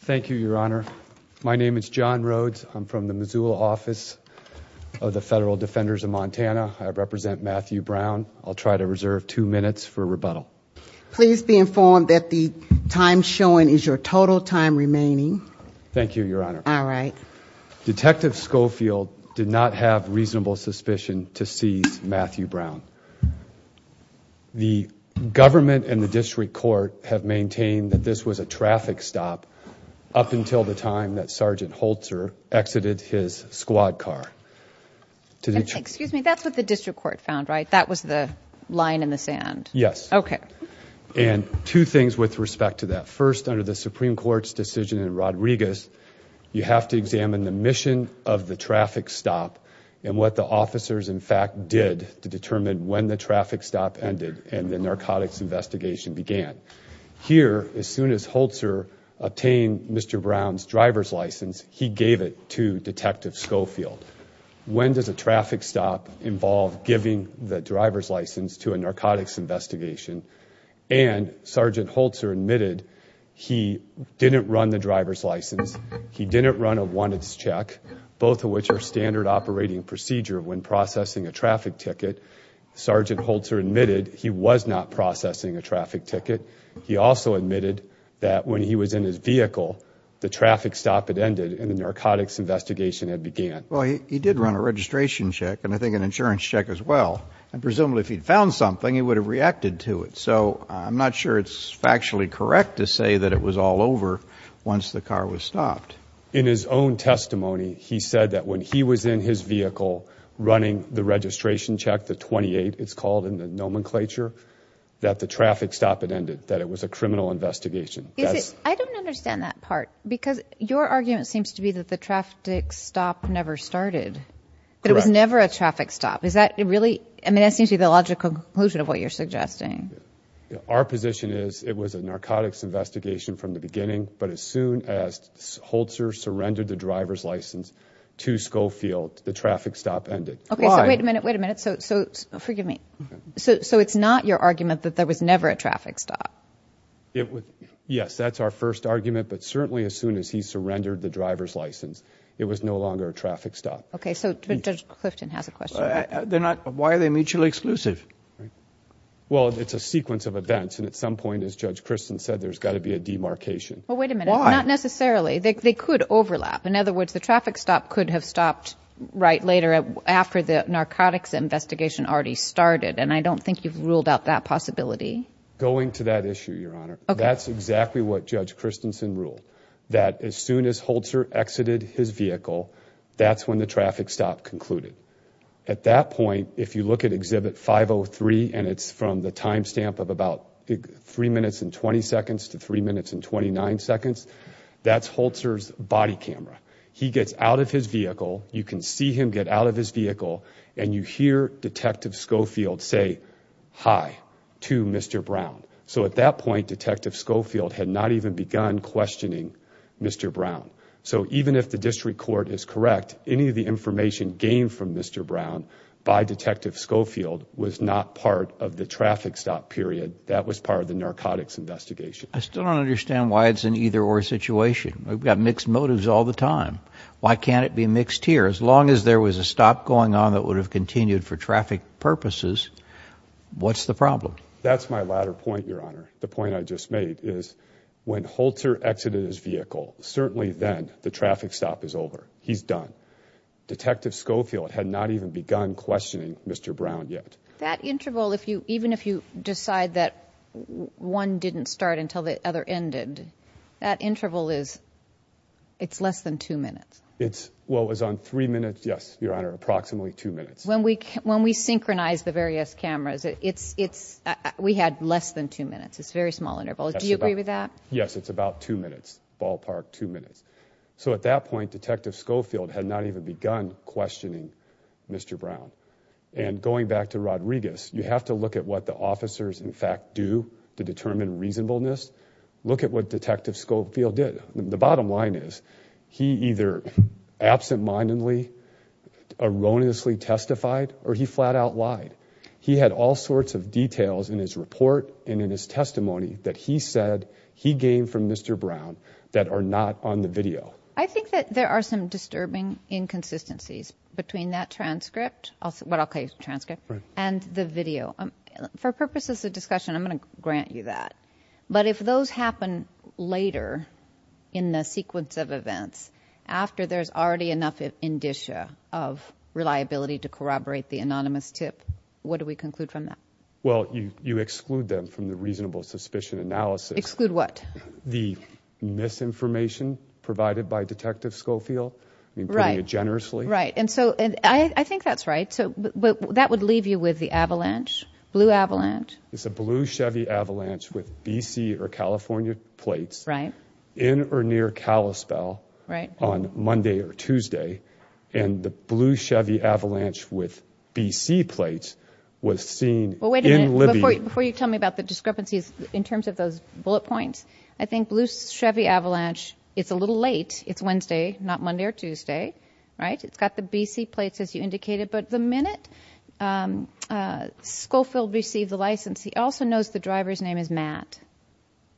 Thank you, Your Honor. My name is John Rhodes. I'm from the Missoula office of the Federal Defenders of Montana. I represent Matthew Browne. I'll try to reserve two minutes for rebuttal. Please be informed that the time shown is your total time remaining. Thank you, Your Honor. All right. Detective Schofield did not have reasonable suspicion to seize Matthew Browne. The government and the up until the time that Sgt. Holzer exited his squad car. Excuse me. That's what the district court found, right? That was the line in the sand? Yes. Okay. And two things with respect to that. First, under the Supreme Court's decision in Rodriguez, you have to examine the mission of the traffic stop and what the officers, in fact, did to determine when the traffic stop ended and the narcotics investigation began. Here, as soon as Holzer obtained Mr. Browne's driver's license, he gave it to Detective Schofield. When does a traffic stop involve giving the driver's license to a narcotics investigation? And Sgt. Holzer admitted he didn't run the driver's license. He didn't run a wanted check, both of which are standard operating procedure when processing a traffic ticket. Sgt. Holzer admitted he was not processing a traffic ticket. He also admitted that when he was in his vehicle, the traffic stop had ended and the narcotics investigation had began. Well, he did run a registration check and I think an insurance check as well. And presumably, if he'd found something, he would have reacted to it. So I'm not sure it's factually correct to say that it was all over once the car was stopped. In his own testimony, he said that when he was in his vehicle running the registration check, the 28 it's called in the nomenclature, that the traffic stop had ended. That it was a criminal investigation. I don't understand that part because your argument seems to be that the traffic stop never started. That it was never a traffic stop. Is that really, I mean that seems to be the logical conclusion of what you're suggesting. Our position is it was a narcotics investigation from the beginning, but as soon as Holzer surrendered the driver's license to Schofield, the traffic stop ended. Okay, wait a minute, wait a minute, so forgive me. So it's not your argument that there was never a traffic stop? Yes, that's our first argument, but certainly as soon as he surrendered the driver's license, it was no longer a traffic stop. Okay, so Judge Clifton has a question. They're not, why are they mutually exclusive? Well, it's a sequence of events and at some point, as Judge Kristen said, there's got to be a demarcation. Well, wait a minute, not necessarily. They could overlap. In other words, the traffic stop could have stopped right later after the narcotics investigation already started and I don't think you've ruled out that possibility. Going to that issue, Your Honor, that's exactly what Judge Christensen ruled. That as soon as Holzer exited his vehicle, that's when the traffic stop concluded. At that point, if you look at Exhibit 503 and it's from the timestamp of about three minutes and 20 seconds to three minutes and 29 seconds, that's Holzer's body camera. He gets out of his vehicle. You can see him get out of his vehicle and you hear Detective Schofield say, hi, to Mr. Brown. So at that point, Detective Schofield had not even begun questioning Mr. Brown. So even if the district court is correct, any of the information gained from Mr. Brown by Detective Schofield was not part of the traffic stop period. That was part of the narcotics investigation. I still don't understand why it's an either-or situation. We've got mixed motives all the time. Why can't it be mixed here? As long as there was a stop going on that would have continued for traffic purposes, what's the problem? That's my latter point, Your Honor. The point I just made is when Holzer exited his vehicle, certainly then the traffic stop is over. He's done. Detective Schofield had not even begun questioning Mr. Brown yet. That interval, even if you decide that one didn't start until the other ended, that interval is it's less than two minutes. Well, it was on three minutes. Yes, Your Honor, approximately two minutes. When we synchronized the various cameras, we had less than two minutes. It's a very small interval. Do you agree with that? Yes, it's about two minutes, ballpark two minutes. So at that point, Detective Schofield had not even begun questioning Mr. Brown. And going back to Rodriguez, you have to look at what the officers in fact do to determine reasonableness. Look at what Detective Schofield did. The bottom line is he either absentmindedly, erroneously testified, or he flat-out lied. He had all sorts of details in his report and in his testimony that he said he gained from Mr. Brown that are not on the video. I think that there are some disturbing inconsistencies between that transcript, what I'll call a transcript, and the video. For purposes of later, in the sequence of events, after there's already enough indicia of reliability to corroborate the anonymous tip, what do we conclude from that? Well, you exclude them from the reasonable suspicion analysis. Exclude what? The misinformation provided by Detective Schofield, putting it generously. Right, and so I think that's right, but that would leave you with the avalanche, blue plates, in or near Kalispell on Monday or Tuesday, and the blue Chevy Avalanche with BC plates was seen in Libya. Before you tell me about the discrepancies in terms of those bullet points, I think blue Chevy Avalanche, it's a little late, it's Wednesday, not Monday or Tuesday, right? It's got the BC plates as you indicated, but the minute Schofield received the license, he also the driver's name is Matt.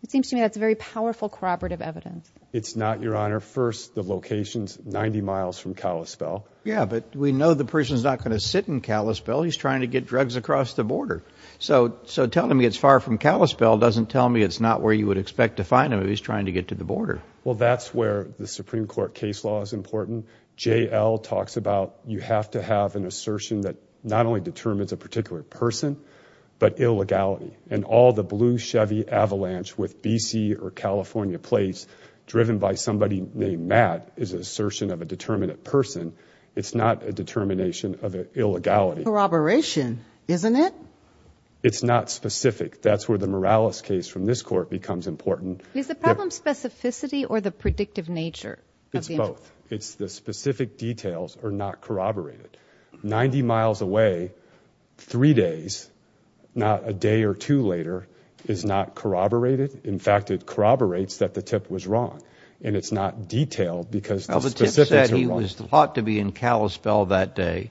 It seems to me that's a very powerful corroborative evidence. It's not, Your Honor. First, the location's 90 miles from Kalispell. Yeah, but we know the person's not going to sit in Kalispell. He's trying to get drugs across the border, so telling me it's far from Kalispell doesn't tell me it's not where you would expect to find him if he's trying to get to the border. Well, that's where the Supreme Court case law is important. JL talks about you have to have an assertion that not only determines a particular person, but illegality and all the blue Chevy Avalanche with BC or California plates driven by somebody named Matt is an assertion of a determinate person. It's not a determination of illegality. Corroboration, isn't it? It's not specific. That's where the Morales case from this court becomes important. Is the problem specificity or the predictive nature? It's both. It's the specific details are not corroborated. 90 miles away, three days, not a day or two later, is not corroborated. In fact, it corroborates that the tip was wrong, and it's not detailed because the specifics are wrong. Well, the tip said he was thought to be in Kalispell that day,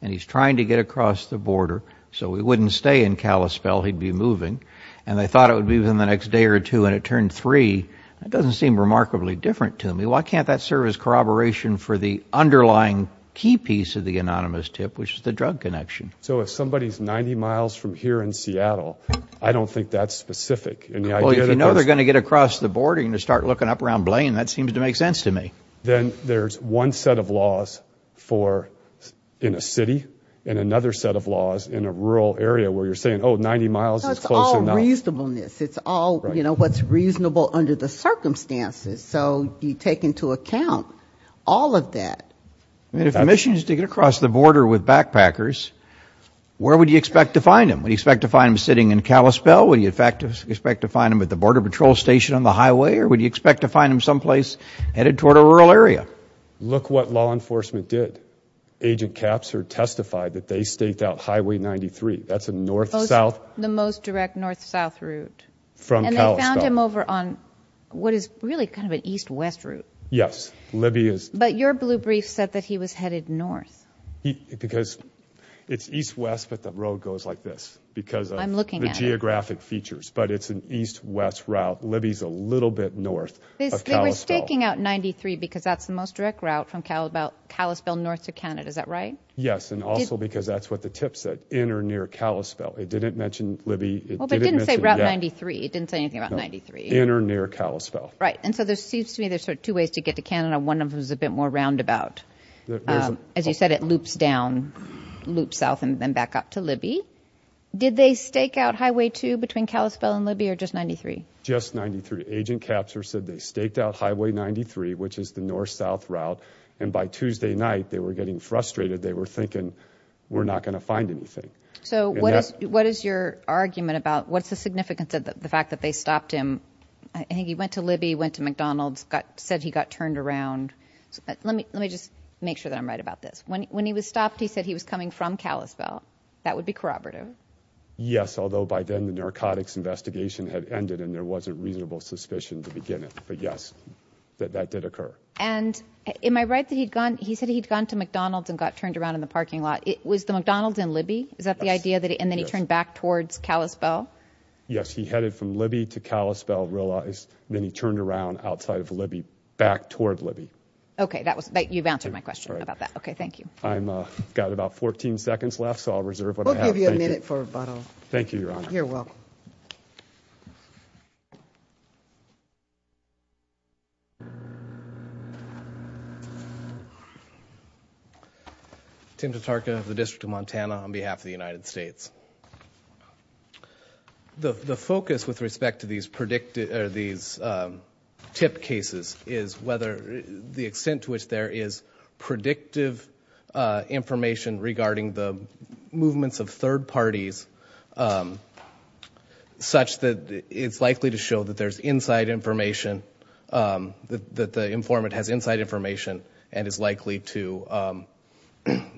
and he's trying to get across the border, so he wouldn't stay in Kalispell. He'd be moving, and they thought it would be within the next day or two, and it turned three. That doesn't seem remarkably different to me. Why can't that serve as corroboration for the underlying key piece of the anonymous tip, which is the drug connection? So if somebody's 90 miles from here in Seattle, I don't think that's specific. Well, if you know they're going to get across the border, you're going to start looking up around Blaine. That seems to make sense to me. Then there's one set of laws in a city and another set of laws in a rural area where you're saying, oh, 90 miles is close enough. It's all reasonableness. It's all, you know, what's into account. All of that. If the mission is to get across the border with backpackers, where would you expect to find them? Would you expect to find them sitting in Kalispell? Would you expect to find them at the Border Patrol Station on the highway? Or would you expect to find them someplace headed toward a rural area? Look what law enforcement did. Agent Capser testified that they staked out Highway 93. That's a north-south. The most direct north-south route. From Kalispell. And they found him over on what is really kind of an east-west route. Yes, Libby is. But your blue brief said that he was headed north. Because it's east-west, but the road goes like this because of the geographic features. But it's an east-west route. Libby's a little bit north of Kalispell. They were staking out 93 because that's the most direct route from Kalispell north to Canada. Is that right? Yes, and also because that's what the tip said, in or near Kalispell. It didn't mention Libby. Well, but it didn't say Route 93. It didn't say anything about 93. In or near Kalispell. Right, and so there seems to me there's sort of two ways to get to Canada. One of them is a bit more roundabout. As you said, it loops down, loops south and then back up to Libby. Did they stake out Highway 2 between Kalispell and Libby or just 93? Just 93. Agent Capser said they staked out Highway 93, which is the north-south route, and by Tuesday night they were getting frustrated. They were thinking we're not going to find anything. So what is your argument about, what's the significance of the fact that they stopped him? I think he went to Libby, went to McDonald's, said he got turned around. Let me just make sure that I'm right about this. When he was stopped, he said he was coming from Kalispell. That would be corroborative? Yes, although by then the narcotics investigation had ended and there was a reasonable suspicion to begin it. But yes, that did occur. And am I right that he'd gone, he said he'd gone to McDonald's and got turned around in the parking lot? Was the McDonald's in Libby? Is that the idea? And then he turned back towards Kalispell? Yes, he headed from Libby to Kalispell, realized, then he turned around outside of Libby, back toward Libby. Okay, that was, you've answered my question about that. Okay, thank you. I've got about 14 seconds left, so I'll reserve what I have. We'll give you a minute for rebuttal. Thank you, Your Honor. You're welcome. Tim Tatarka of the District of Montana on behalf of the United States. The focus with respect to these predicted, these tip cases, is whether the extent to which there is predictive information regarding the movements of third parties such that it's likely to show that there's inside information, that the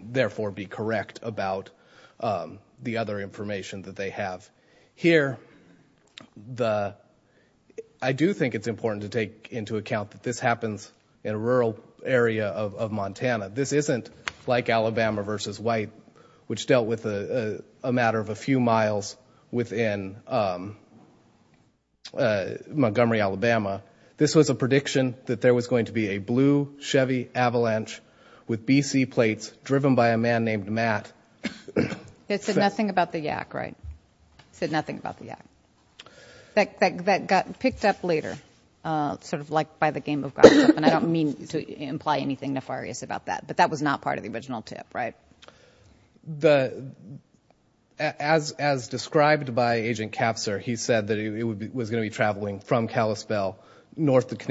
therefore be correct about the other information that they have. Here, I do think it's important to take into account that this happens in a rural area of Montana. This isn't like Alabama versus White, which dealt with a matter of a few miles within Montgomery, Alabama. This was a prediction that there was going to be a blue Chevy Avalanche with BC plates driven by a man named Matt. It said nothing about the yak, right? It said nothing about the yak. That got picked up later, sort of like by the game of gossip, and I don't mean to imply anything nefarious about that, but that was not part of the original tip, right? As described by Agent Kapser, he said that it was going to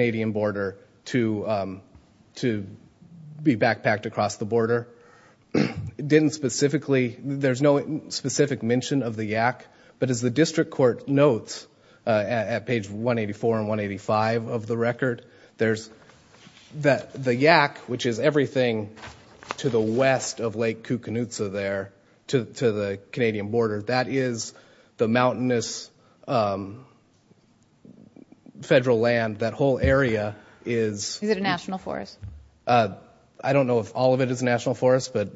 be to be backpacked across the border. It didn't specifically, there's no specific mention of the yak, but as the district court notes at page 184 and 185 of the record, there's that the yak, which is everything to the west of Lake Kukanutza there, to the Canadian border, that is the mountainous federal land. That whole area is... Is it a national forest? I don't know if all of it is national forest, but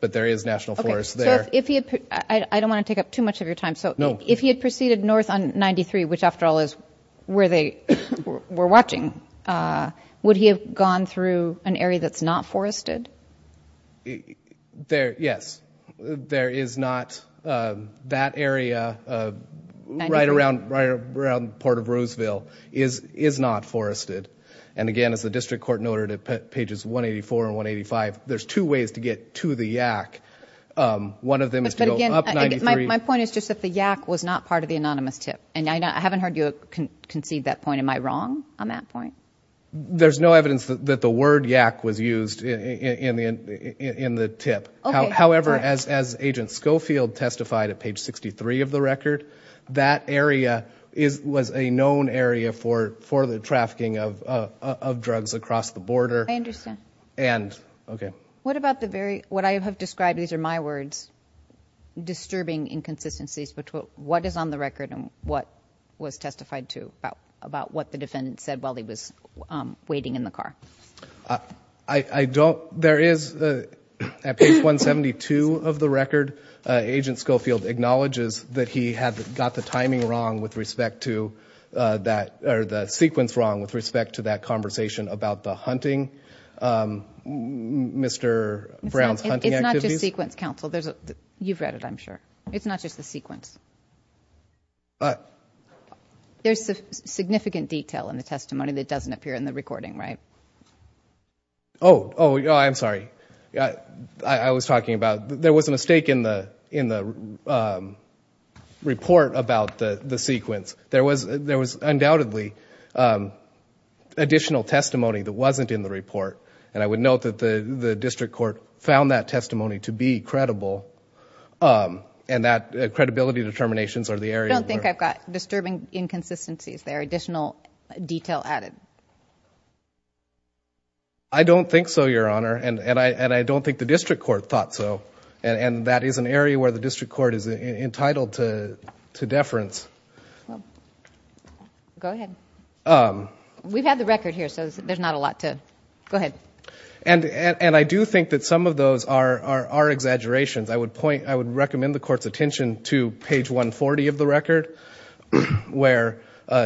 there is national forest there. I don't want to take up too much of your time, so if he had proceeded north on 93, which after all is where they were watching, would he have gone through an area that's not forested? Yes, there is not that area right around Port of Roseville is not forested. And again, as the district court noted at pages 184 and 185, there's two ways to get to the yak. One of them is to go up 93... My point is just that the yak was not part of the anonymous tip, and I haven't heard you concede that point. Am I wrong on that point? There's no evidence that the word yak was used in the tip. However, as Agent Schofield testified at page 63 of the record, that area is... was a known area for the trafficking of drugs across the border. I understand. And... Okay. What about the very... What I have described, these are my words, disturbing inconsistencies, but what is on the record and what was testified to about what the defendant said while he was waiting in the car? I don't... There is, at page 172 of the record, Agent Schofield acknowledges that he had got the timing wrong with respect to that, or the sequence wrong with respect to that conversation about the hunting, Mr. Brown's hunting activities. It's not just sequence, counsel. There's a... You've read it, I'm sure. It's not just the sequence. There's a significant detail in the testimony that doesn't appear in the recording, right? Oh, oh, I'm sorry. I was talking about... There was a mistake in the... in the report about the sequence. There was... there was undoubtedly additional testimony that wasn't in the report, and I would note that the District Court found that testimony to be credible, and that credibility determinations are the area... Disturbing inconsistencies. There are additional detail added. I don't think so, Your Honor, and I don't think the District Court thought so, and that is an area where the District Court is entitled to deference. Go ahead. We've had the record here, so there's not a lot to... Go ahead. And I do think that some of those are exaggerations. I would point... I would recommend the testimony where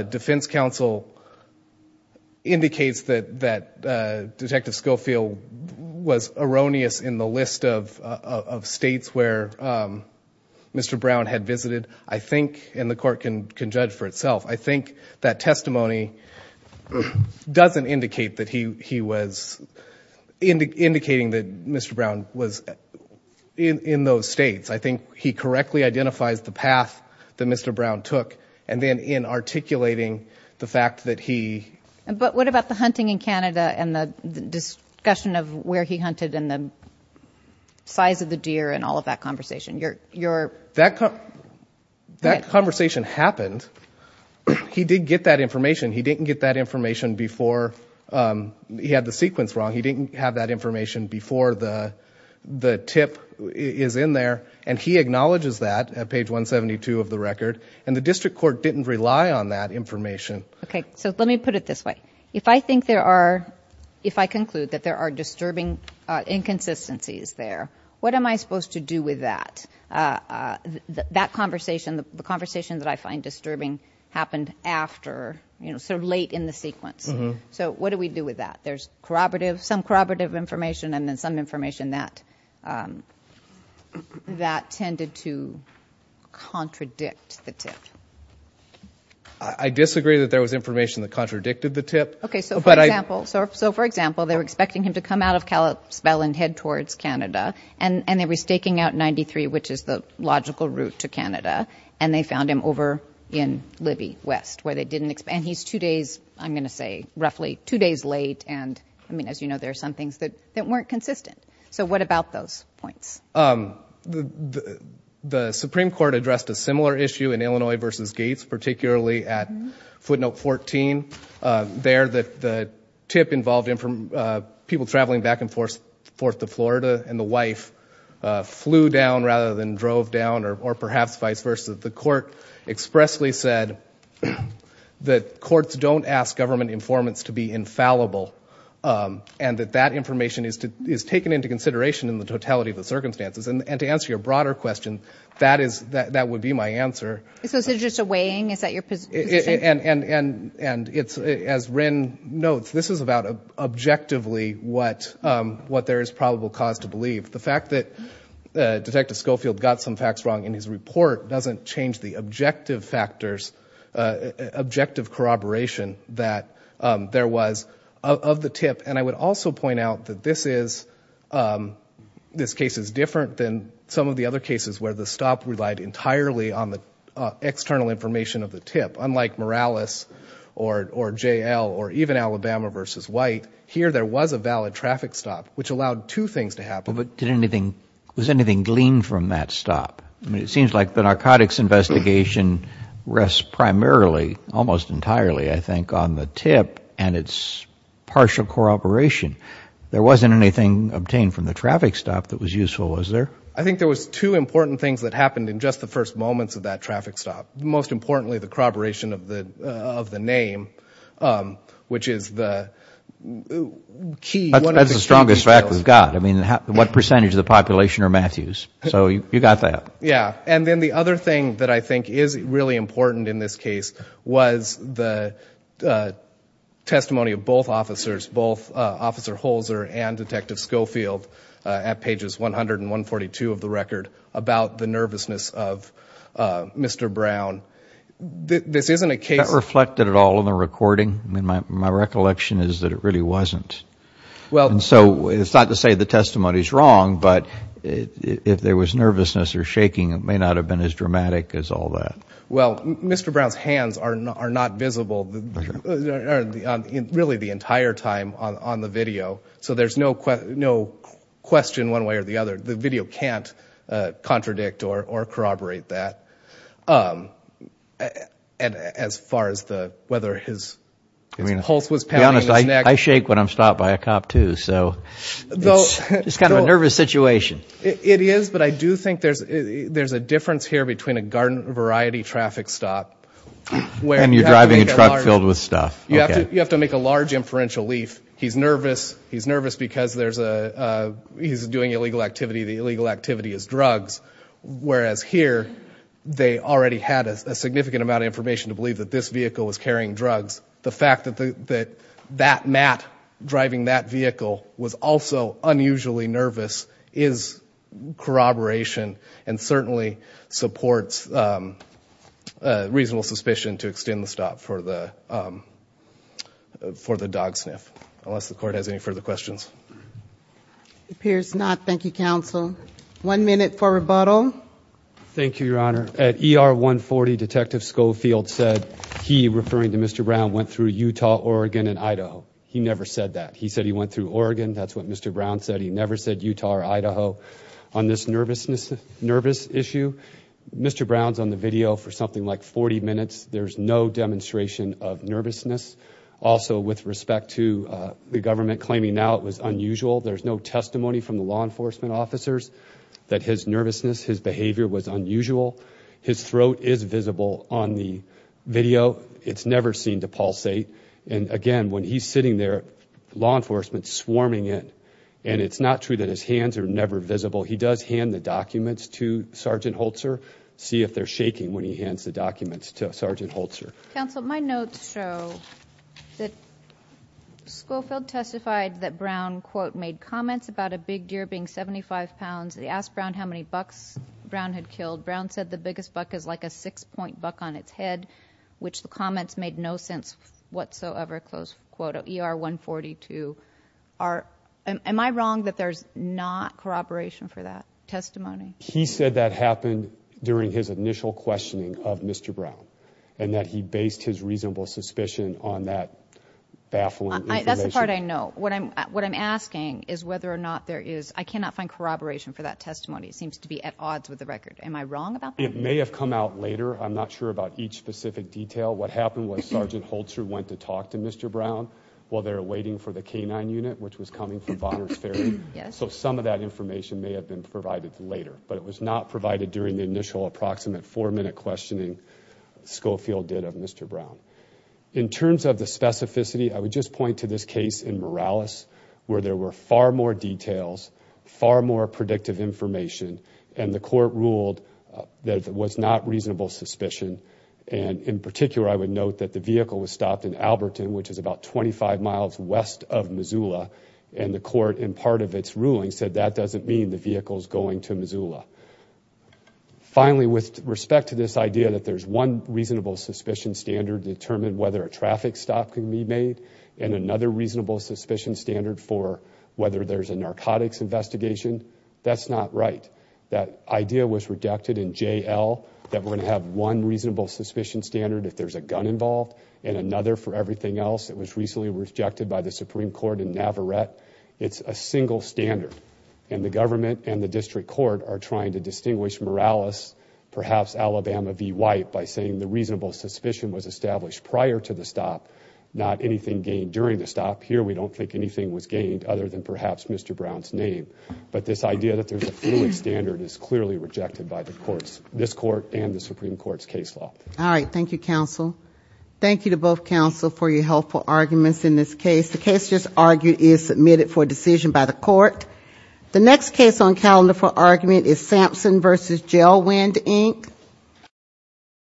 Defense Counsel indicates that Detective Schofield was erroneous in the list of states where Mr. Brown had visited. I think, and the Court can judge for itself, I think that testimony doesn't indicate that he was... indicating that Mr. Brown was in those states. I think he correctly identifies the path that Mr. Brown took, and then in articulating the fact that he... But what about the hunting in Canada, and the discussion of where he hunted, and the size of the deer, and all of that conversation? That conversation happened. He did get that information. He didn't get that information before he had the sequence wrong. He didn't have that information before the tip is in there, and he acknowledges that at page 172 of the record, and the District Court didn't rely on that information. Okay, so let me put it this way. If I think there are... If I conclude that there are disturbing inconsistencies there, what am I supposed to do with that? That conversation, the conversation that I find disturbing, happened after, you know, sort of late in the sequence. So what do we do with that? There's corroborative, some corroborative information, and then some information that tended to contradict the tip. I disagree that there was information that contradicted the tip, but I... Okay, so for example, they were expecting him to come out of Kalispell and head towards Canada, and they were staking out 93, which is the logical route to Canada, and they found him over in Libby West, where they didn't expect... And he's two days, I'm going to say, roughly two days late, and I mean, as you know, there are some things that weren't consistent. So what about those points? The Supreme Court addressed a similar issue in Illinois versus Gates, particularly at footnote 14. There, the tip involved people traveling back and forth to Florida, and the wife flew down rather than drove down, or perhaps vice versa. The court expressly said that courts don't ask government informants to be infallible, and that that information is taken into consideration in the totality of the circumstances. And to answer your broader question, that would be my answer. So is this just a weighing? Is that your position? And as Wren notes, this is about objectively what there is probable cause to believe. The fact that Detective Schofield got some facts wrong in his report doesn't change the objective factors, objective corroboration that there was of the tip. And I would also point out that this case is different than some of the other cases where the stop relied entirely on the external information of the tip. Unlike Morales or J.L. or even Alabama versus White, here there was a valid traffic stop, which allowed two things to happen. But did anything, was anything gleaned from that stop? I mean, it seems like the narcotics investigation rests primarily, almost entirely, I think, on the tip and its partial corroboration. There wasn't anything obtained from the traffic stop that was useful, was there? I think there was two important things that happened in just the first moments of that traffic stop. Most importantly, the corroboration of the name, which is the key. That's the strongest fact we've got. I mean, what percentage of the population are Matthews? So you got that. Yeah. And then the other thing that I think is really important in this case was the testimony of both officers, both Officer Holzer and Detective Schofield, at pages 100 and 142 of the record, about the nervousness of Mr. Brown. This isn't a case... Is that reflected at all in the recording? I mean, my recollection is that it really wasn't. And so it's not to say the testimony is wrong, but if there was nervousness or shaking, it may not have been as dramatic as all that. Well, Mr. Brown's hands are not visible really the entire time on the video, so there's no question one way or the other. The video can't contradict or corroborate that as far as whether his pulse was pounding his neck. To be honest, I shake when I'm stopped by a cop too, so it's kind of a nervous situation. It is, but I do think there's a difference here between a garden variety traffic stop... And you're driving a truck filled with stuff. You have to make a large inferential leaf. He's nervous because he's doing illegal activity. The illegal activity is drugs, whereas here they already had a significant amount of information to believe that this vehicle was carrying drugs. The fact that Matt driving that vehicle was also unusually nervous is corroboration and certainly supports reasonable suspicion to extend the stop for the dog sniff, unless the Court has any further questions. It appears not. Thank you, counsel. One minute for rebuttal. Thank you, Your Honor. At ER 140, Detective Schofield said he, referring to Mr. Brown, went through Utah, Oregon, and Idaho. He never said that. He said he went through Oregon. That's what Mr. Brown said. He never said Utah or Idaho. On this nervous issue, Mr. Brown's on the video for something like 40 minutes. There's no demonstration of nervousness. Also, with respect to the government claiming now it was unusual, there's no testimony from the law enforcement officers that his nervousness, his behavior was unusual. His throat is visible on the video. It's never seen to pulsate. And again, when he's sitting there, law enforcement's swarming in, and it's not true that his hands are never visible. He does hand the documents to Sergeant Holzer, see if they're shaking when he hands the documents to Sergeant Holzer. Counsel, my notes show that Schofield testified that Brown, quote, made comments about a big deer being 75 pounds. He asked Brown how many bucks Brown had killed. Brown said the biggest buck is like a six-point buck on its head, which the comments made no sense whatsoever, close quote, ER 142. Am I wrong that there's not corroboration for that testimony? He said that happened during his initial questioning of Mr. Brown and that he based his reasonable suspicion on that baffling information. That's the part I know. What I'm asking is whether or not there is. I cannot find corroboration for that testimony. It seems to be at odds with the record. Am I wrong about that? It may have come out later. I'm not sure about each specific detail. What happened was Sergeant Holzer went to talk to Mr. Brown while they were waiting for the K-9 unit, which was coming from Bonner's Ferry. So some of that information may have been provided later, but it was not provided during the initial approximate four-minute questioning Schofield did of Mr. Brown. In terms of the specificity, I would just point to this case in Morales where there were far more details, far more predictive information, and the court ruled that it was not reasonable suspicion. And in particular, I would note that the vehicle was stopped in Alberton, which is about 25 miles west of Missoula, and the court, in part of its ruling, said that doesn't mean the vehicle is going to Missoula. Finally, with respect to this idea that there's one reasonable suspicion standard to determine whether a traffic stop can be made and another reasonable suspicion standard for whether there's a narcotics investigation, that's not right. That idea was rejected in J.L. that we're going to have one reasonable suspicion standard if there's a gun involved and another for everything else. It was recently rejected by the Supreme Court in Navarrete. It's a single standard, and the government and the district court are trying to distinguish Morales, perhaps Alabama v. White, by saying the reasonable suspicion was established prior to the stop, not anything gained during the stop. Here, we don't think anything was gained other than perhaps Mr. Brown's name. But this idea that there's a fluid standard is clearly rejected by the courts, this court and the Supreme Court's case law. All right, thank you, counsel. Thank you to both counsel for your helpful arguments in this case. The case just argued is submitted for decision by the court. The next case on calendar for argument is Sampson v. Gelwind, Inc.